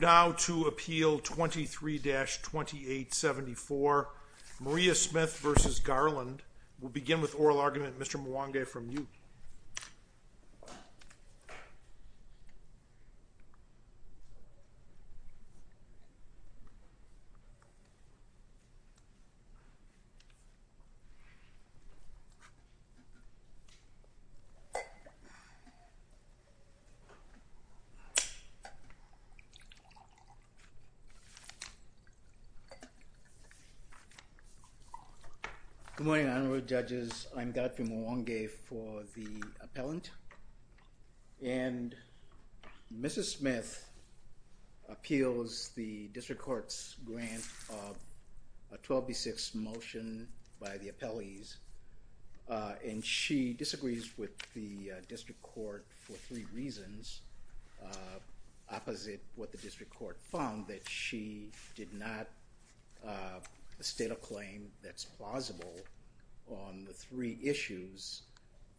Now to Appeal 23-2874, Maria Smith v. Garland. We'll begin with oral argument, Mr. Mwangi for the appellant. And Mrs. Smith appeals the District Court's grant of a 12B6 motion by the appellees and she disagrees with the District Court for three reasons opposite what the District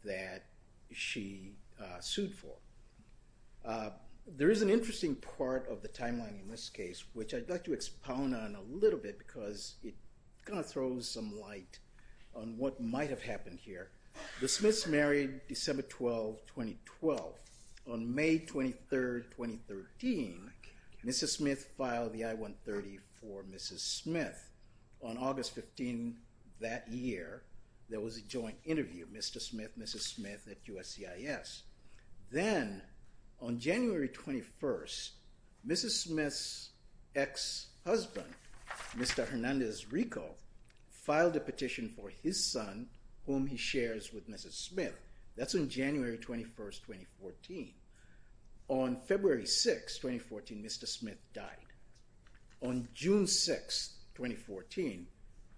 that she sued for. There is an interesting part of the timeline in this case which I'd like to expound on a little bit because it kind of throws some light on what might have happened here. The Smiths married December 12, 2012. On May 23, 2013, Mrs. Smith filed the I-130 for Mrs. Smith. On August 15 that year, there was a joint interview, Mr. Smith, Mrs. Smith at USCIS. Then on January 21, Mrs. Smith's ex-husband, Mr. Hernandez Rico, filed a petition for his son whom he shares with Mrs. Smith. That's in January 21, 2014. On February 6, 2014, Mr. Smith died. On June 6, 2014,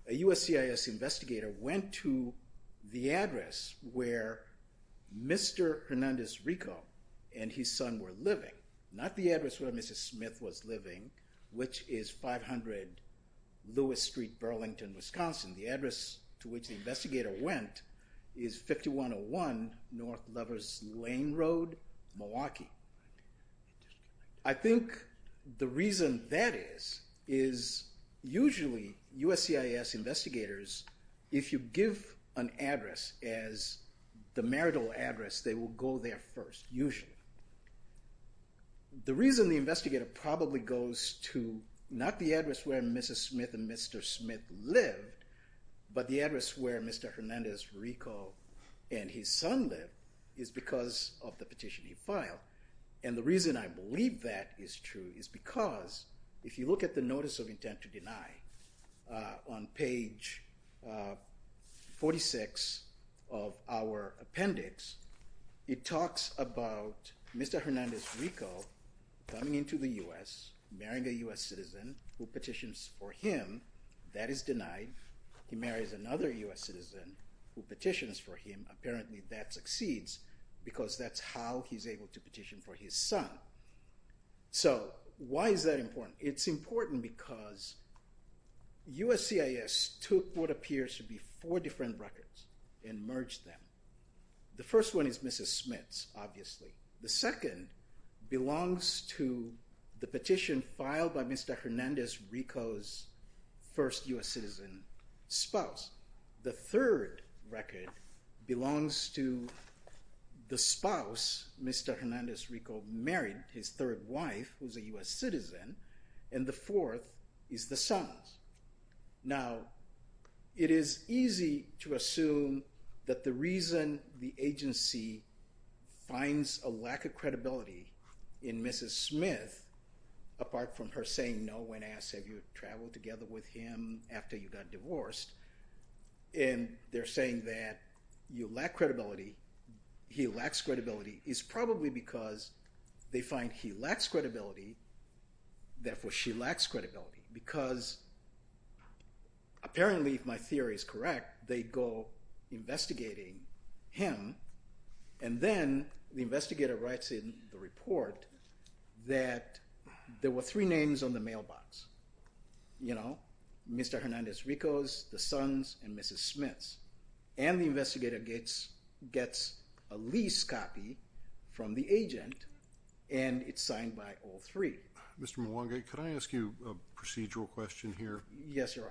a USCIS investigator went to the address where Mr. Hernandez Rico and his son were living, not the address where Mrs. Smith was living which is 500 Lewis Street, Burlington, Wisconsin. The address to which the investigator went is 5101 North Lovers Lane Road, Milwaukee. I think the reason that is is usually USCIS investigators, if you give an address as the marital address, they will go there first, usually. The reason the investigator probably goes to not the address where Mrs. Smith and Mr. Smith lived, but the address where Mr. Hernandez Rico and his son live is because of the petition he filed, and the reason I believe that is true is because if you look at the Notice of Intent to Deny on page 46 of our appendix, it talks about Mr. Hernandez Rico coming into the U.S., marrying a U.S. citizen who petitions for him. That is denied. He marries another U.S. citizen who petitions for him. Apparently that succeeds because that's how he's able to petition for his son. So why is that important? It's important because USCIS took what appears to be four different records and merged them. The first one is Mrs. Smith's, obviously. The second belongs to the petition filed by Mr. Hernandez Rico's first U.S. citizen spouse. The third record belongs to the spouse Mr. Hernandez Rico married, his third wife, who's a U.S. citizen, and the fourth is the son's. Now, it is easy to assume that the reason the agency finds a lack of credibility in Mrs. Smith, apart from her saying no when asked, have you traveled together with him after you got divorced, and they're saying that you lack credibility, he lacks credibility, is probably because they find he lacks credibility, therefore she lacks credibility. Because apparently, if my theory is correct, they go investigating him, and then the investigator writes in the report that there were three names on the mailbox, you know, Mr. Hernandez Rico's, the son's, and Mrs. Smith's, and the investigator gets a lease copy from the agent, and it's signed by all three. Mr. Mwangi, could I ask you a procedural question here? Yes, should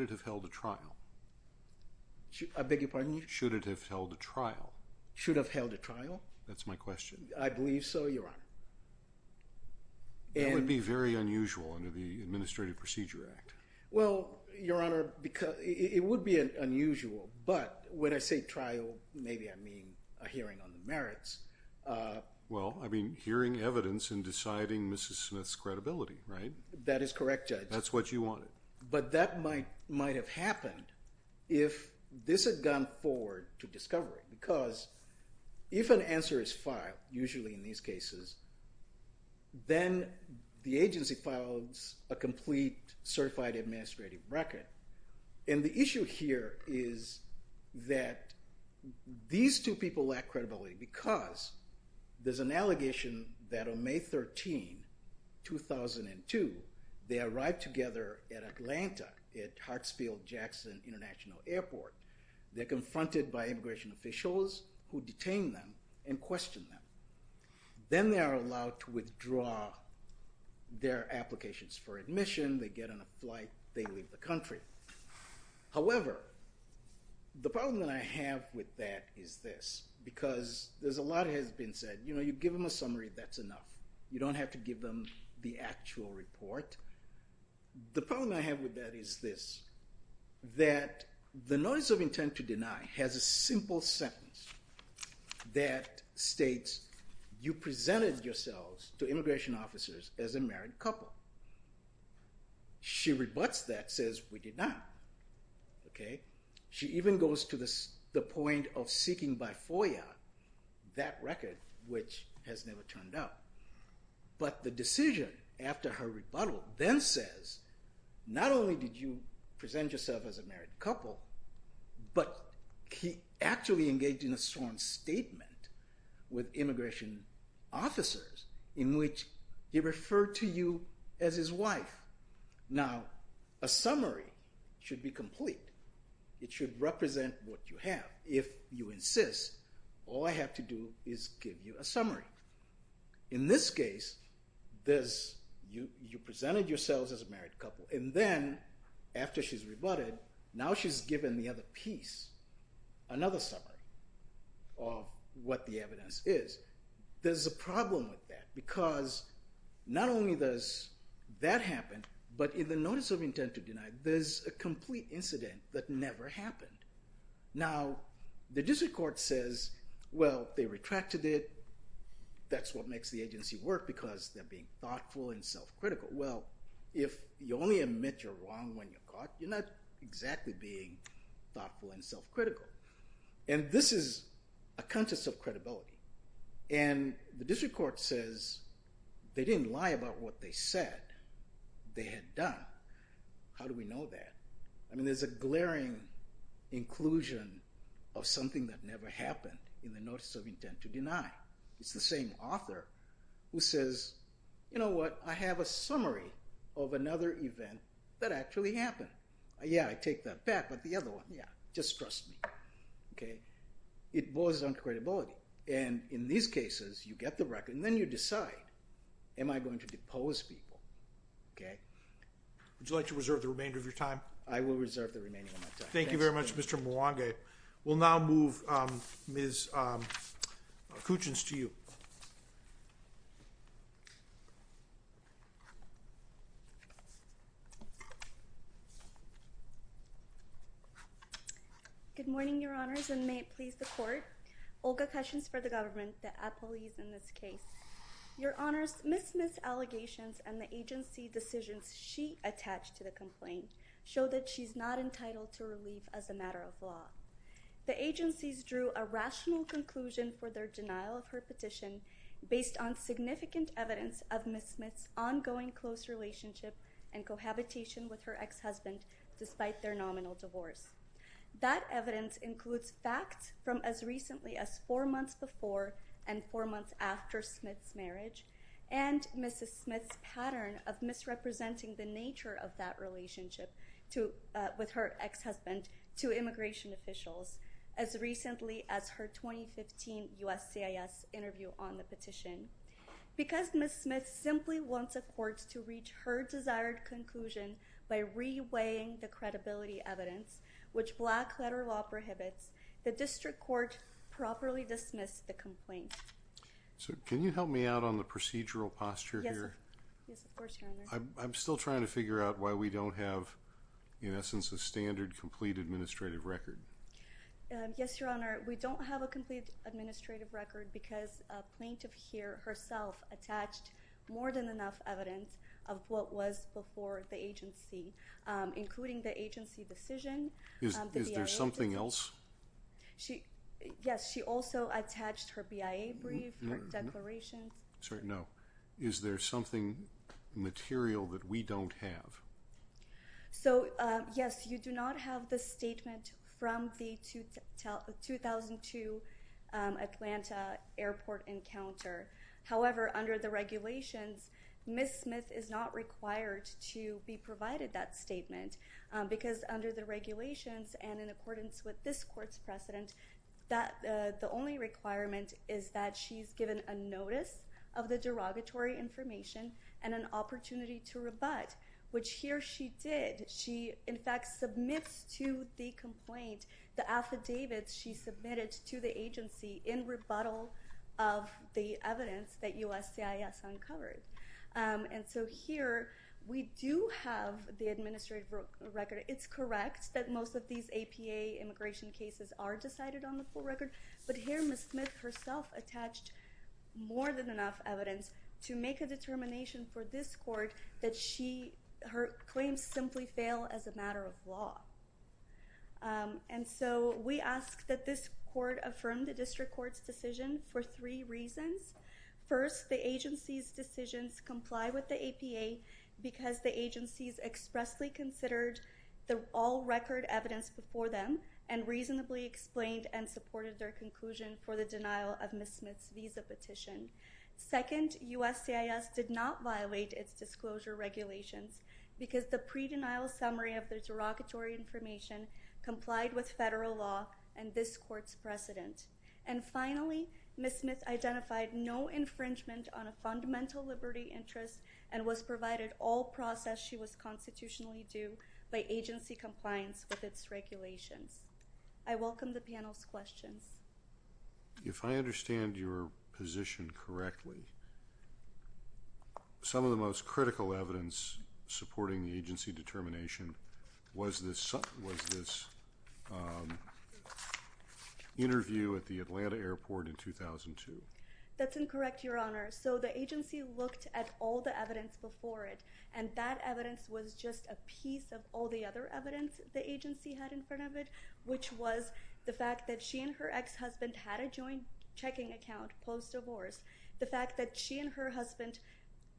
it have held a trial? Should it have held a trial? That's my question. I believe so, your It would be very unusual under the Administrative Procedure Act. Well, your honor, because it would be unusual, but when I say trial, maybe I mean a hearing on the merits. Well, I mean hearing evidence and deciding Mrs. Smith's credibility, right? That is correct, Judge. That's what you wanted. But that might have happened if this had gone forward to discovery, because if an answer is filed, usually in these cases, then the agency files a complete certified administrative record. And the issue here is that these two people lack credibility because there's an allegation that on May 13, 2002, they arrived together at Atlanta at Hartsfield-Jackson International Airport. They're confronted by immigration officials who detain them and question them. Then they are allowed to withdraw their applications for admission, they get on a flight, they leave the country. However, the problem that I have with that is this, because there's a lot has been said, you know, you give them a summary, that's enough. You don't have to the notice of intent to deny has a simple sentence that states, you presented yourselves to immigration officers as a married couple. She rebuts that, says we did not. Okay. She even goes to the point of seeking by FOIA that record, which has never turned up. But the decision after her rebuttal then says, not only did you present yourself as a married couple, but he actually engaged in a sworn statement with immigration officers in which he referred to you as his wife. Now, a summary should be complete. It should represent what you have. If you insist, all I have to do is give you a summary. In this case, there's, you presented yourselves as a married couple. And then after she's rebutted, now she's given the other piece, another summary of what the evidence is. There's a problem with that because not only does that happen, but in the notice of intent to deny, there's a complete incident that never happened. Now, the district court says, well, they retracted it. That's what makes the agency work because they're being thoughtful and self-critical. Well, if you only admit you're wrong when you're caught, you're not exactly being thoughtful and self-critical. And this is a contest of credibility. And the district court says, they didn't lie about what they said they had done. How do we know that? I mean, there's a glaring inclusion of something that never happened in the notice of intent to deny. It's the same author who says, you know what, I have a summary of another event that actually happened. Yeah, I take that back, but the other one, yeah, just trust me. Okay. It boils down to credibility. And in these cases, you get the record and then you decide, am I going to depose people? Okay. Would you like to reserve the remainder of your time? I will reserve the remaining of my time. Thank you very much, Mr. Mwanga. We'll now move Ms. Kuchins to you. Good morning, your honors, and may it please the court. Olga Kuchins for the government, the appellees in this case. Your honors, Ms. Smith's allegations and the agency decisions she attached to the complaint show that she's not entitled to relief as a matter of law. The agencies drew a rational conclusion for their denial of her petition based on significant evidence of Ms. Smith's ongoing close relationship and cohabitation with her ex-husband despite their and four months after Smith's marriage and Mrs. Smith's pattern of misrepresenting the nature of that relationship with her ex-husband to immigration officials as recently as her 2015 USCIS interview on the petition. Because Ms. Smith simply wants a court to reach her desired conclusion by reweighing the credibility evidence, which black letter law prohibits, the district court properly dismissed the complaint. So can you help me out on the procedural posture here? Yes, of course, your honor. I'm still trying to figure out why we don't have, in essence, a standard complete administrative record. Yes, your honor, we don't have a complete administrative record because a plaintiff here herself attached more than enough evidence of what was before the agency, including the agency decision. Is there something else? Yes, she also attached her BIA brief, her declarations. Sorry, no. Is there something material that we don't have? So, yes, you do not have the statement from the 2002 Atlanta airport encounter. However, under the regulations, Ms. Smith is not required to be provided that statement because under the regulations and in accordance with this court's precedent, the only requirement is that she's given a notice of the derogatory information and an opportunity to rebut, which here she did. She, in fact, submits to the complaint the affidavits she submitted to the agency in rebuttal of the evidence that USCIS uncovered. And so here we do have the administrative record. It's correct that most of these APA immigration cases are decided on the full record, but here Ms. Smith herself attached more than enough evidence to make a determination for this court that her claims simply fail as a matter of law. And so we ask that this court affirm the district court's decision for three reasons. First, the agency's decisions comply with the APA because the agency's expressly considered the all-record evidence before them and reasonably explained and supported their conclusion for the denial of Ms. Smith's visa petition. Second, USCIS did not violate its disclosure regulations because the pre-denial summary of the derogatory information complied federal law and this court's precedent. And finally, Ms. Smith identified no infringement on a fundamental liberty interest and was provided all process she was constitutionally due by agency compliance with its regulations. I welcome the panel's questions. If I understand your position correctly, some of the most critical evidence supporting the agency determination was this interview at the Atlanta airport in 2002. That's incorrect, your honor. So the agency looked at all the evidence before it and that evidence was just a piece of all the other evidence the agency had in front of it, which was the fact that she and her ex-husband had a joint checking account post-divorce. The fact that she and her husband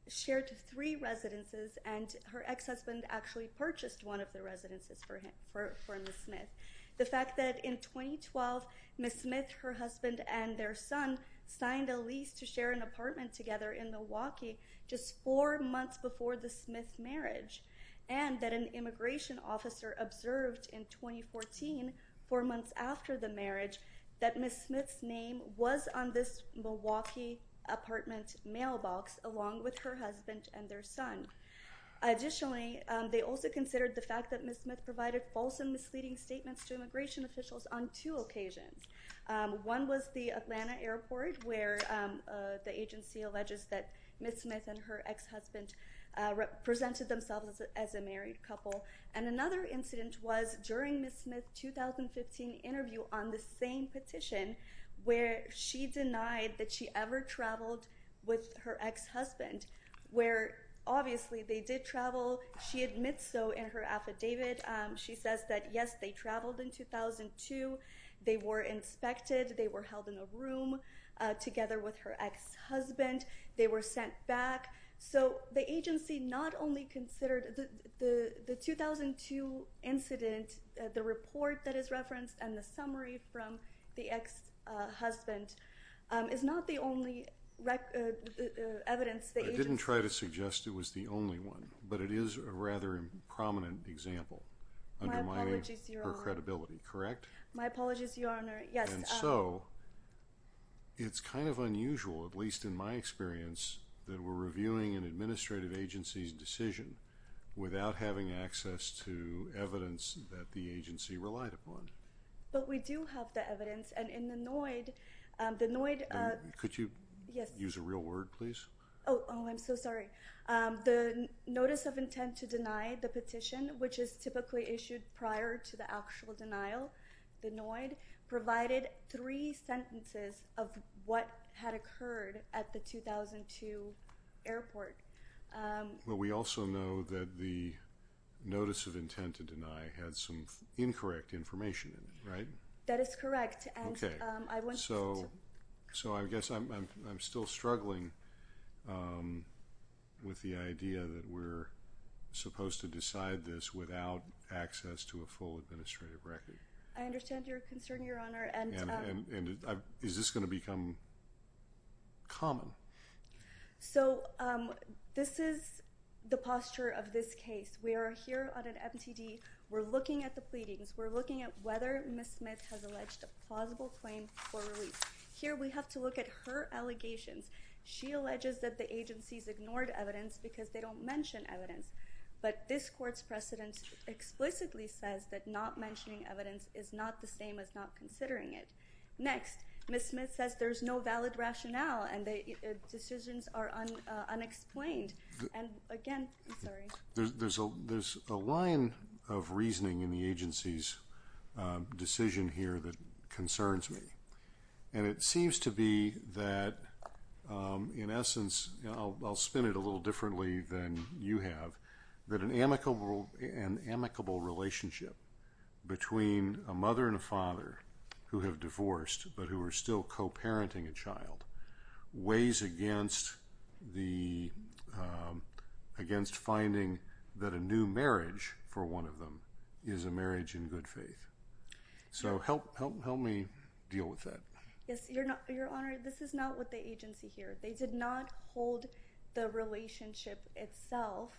shared three residences and her ex-husband actually purchased one of the residences for Ms. Smith. The fact that in 2012, Ms. Smith, her husband, and their son signed a lease to share an apartment together in Milwaukee just four months before the Smith marriage and that an immigration officer observed in 2014, four months after the marriage, that Ms. Smith's name was on this Milwaukee apartment mailbox along with her husband and their son. Additionally, they also considered the fact that Ms. Smith provided false and misleading statements to immigration officials on two occasions. One was the Atlanta airport where the agency alleges that Ms. Smith and her ex-husband presented themselves as a married couple and another incident was during Ms. Smith's 2015 interview on the same petition where she denied that she ever traveled with her ex-husband where obviously they did travel. She admits so in her affidavit. She says that yes, they traveled in 2002. They were inspected. They were held in a room together with her ex-husband. They were sent back. So the agency not only considered the 2002 incident, the report that is referenced, and the summary from the ex-husband is not the only evidence. I didn't try to suggest it was the only one, but it is a rather prominent example undermining her credibility, correct? My apologies, at least in my experience, that we're reviewing an administrative agency's decision without having access to evidence that the agency relied upon. But we do have the evidence and in the NOID, the NOID, could you use a real word please? Oh, I'm so sorry. The notice of intent to deny the petition, which is typically issued prior to the actual denial, the NOID provided three sentences of what had occurred at the 2002 airport. Well, we also know that the notice of intent to deny had some incorrect information in it, right? That is correct. Okay. So I guess I'm still struggling with the idea that we're supposed to decide this without access to a full administrative record. I understand your concern, Your Honor. And is this going to become common? So this is the posture of this case. We are here on an MTD. We're looking at the pleadings. We're looking at whether Ms. Smith has alleged a plausible claim for release. Here we have to look at her allegations. She alleges that the agencies explicitly says that not mentioning evidence is not the same as not considering it. Next, Ms. Smith says there's no valid rationale and the decisions are unexplained. And again, I'm sorry. There's a line of reasoning in the agency's decision here that concerns me. And it seems to be that, in essence, I'll spin it a little differently than you have, that an amicable relationship between a mother and a father who have divorced, but who are still co-parenting a child, weighs against finding that a new marriage for one of them is a marriage in good faith. So help me deal with that. Yes, Your Honor, this is not the agency here. They did not hold the relationship itself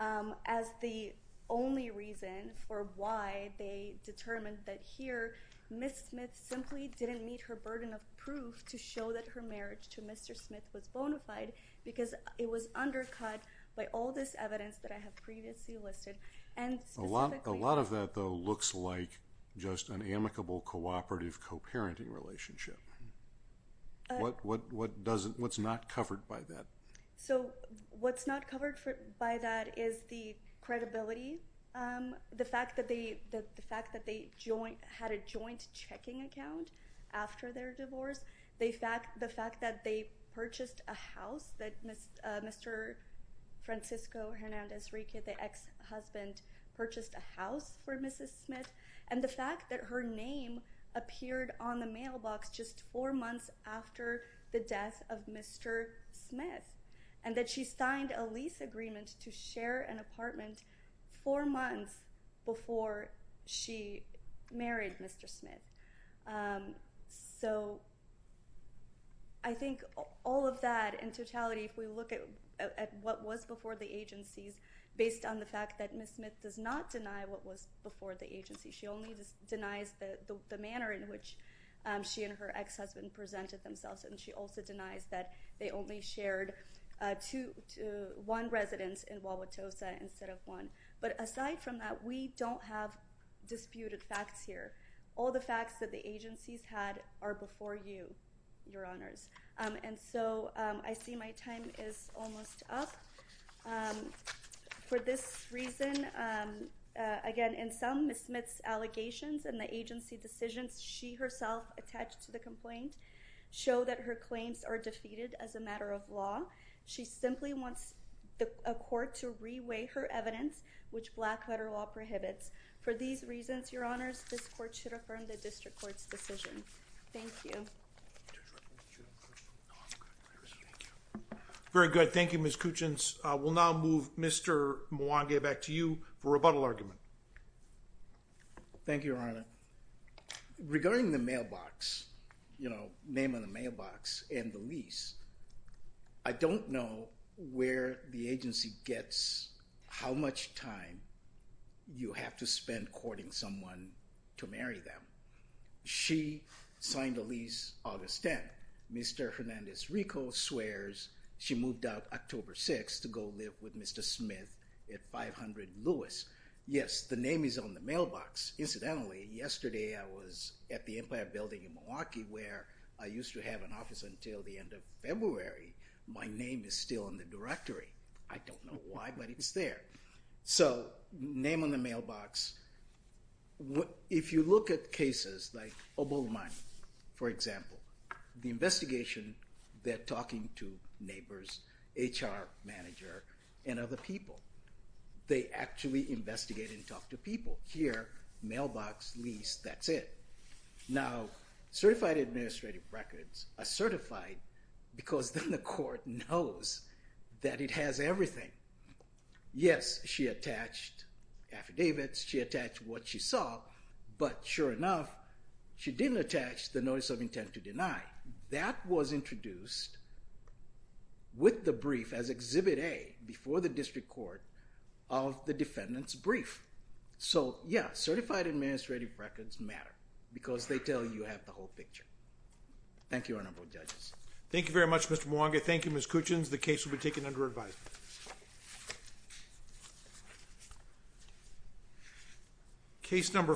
as the only reason for why they determined that here Ms. Smith simply didn't meet her burden of proof to show that her marriage to Mr. Smith was bona fide, because it was undercut by all this evidence that I have previously listed. A lot of that, though, looks like just an amicable, cooperative, co-parenting relationship. What's not covered by that? So what's not covered by that is the credibility, the fact that they had a joint checking account after their divorce, the fact that they purchased a house that Mr. Francisco Hernandez-Riquez, the ex-husband, purchased a house for Mrs. Smith, and the fact that her name appeared on the mailbox just four months after the death of Mr. Smith, and that she signed a lease agreement to share an apartment four months before she married Mr. Smith. So I think all of that in based on the fact that Ms. Smith does not deny what was before the agency. She only denies the manner in which she and her ex-husband presented themselves, and she also denies that they only shared one residence in Wauwatosa instead of one. But aside from that, we don't have disputed facts here. All the facts that the agencies had are before you, Your Honors. And so I see my time is almost up. For this reason, again, in some, Ms. Smith's allegations and the agency decisions she herself attached to the complaint show that her claims are defeated as a matter of law. She simply wants a court to reweigh her evidence, which black letter law prohibits. For these reasons, Your Honors, this court should affirm the district court's decision. Thank you. Very good. Thank you, Ms. Kuchins. We'll now move Mr. Mwangi back to you for rebuttal argument. Thank you, Your Honor. Regarding the mailbox, you know, name on the mailbox and the lease, I don't know where the agency gets how much time you have to spend courting someone to marry them. She signed the lease August 10th. Mr. Hernandez Rico swears she moved out October 6th to go live with Mr. Smith at 500 Lewis. Yes, the name is on the mailbox. Incidentally, yesterday I was at the Empire Building in Milwaukee where I used to have an office until the end of February. My name is still in the directory. I don't know why, but it's there. So name on the mailbox. If you look at cases like Obolu Mwangi, for example, the investigation, they're talking to neighbors, HR manager, and other people. They actually investigate and talk to people. Here, mailbox, lease, that's it. Now, certified administrative records are certified because the court knows that it has everything. Yes, she attached affidavits. She attached what she saw, but sure enough, she didn't attach the notice of intent to deny. That was introduced with the brief as Exhibit A before the district court of the defendant's brief. So yeah, certified administrative records matter because they tell you you have the whole picture. Thank you, Mr. Mwangi. Thank you, Ms. Coochins. The case will be taken under advice. Case number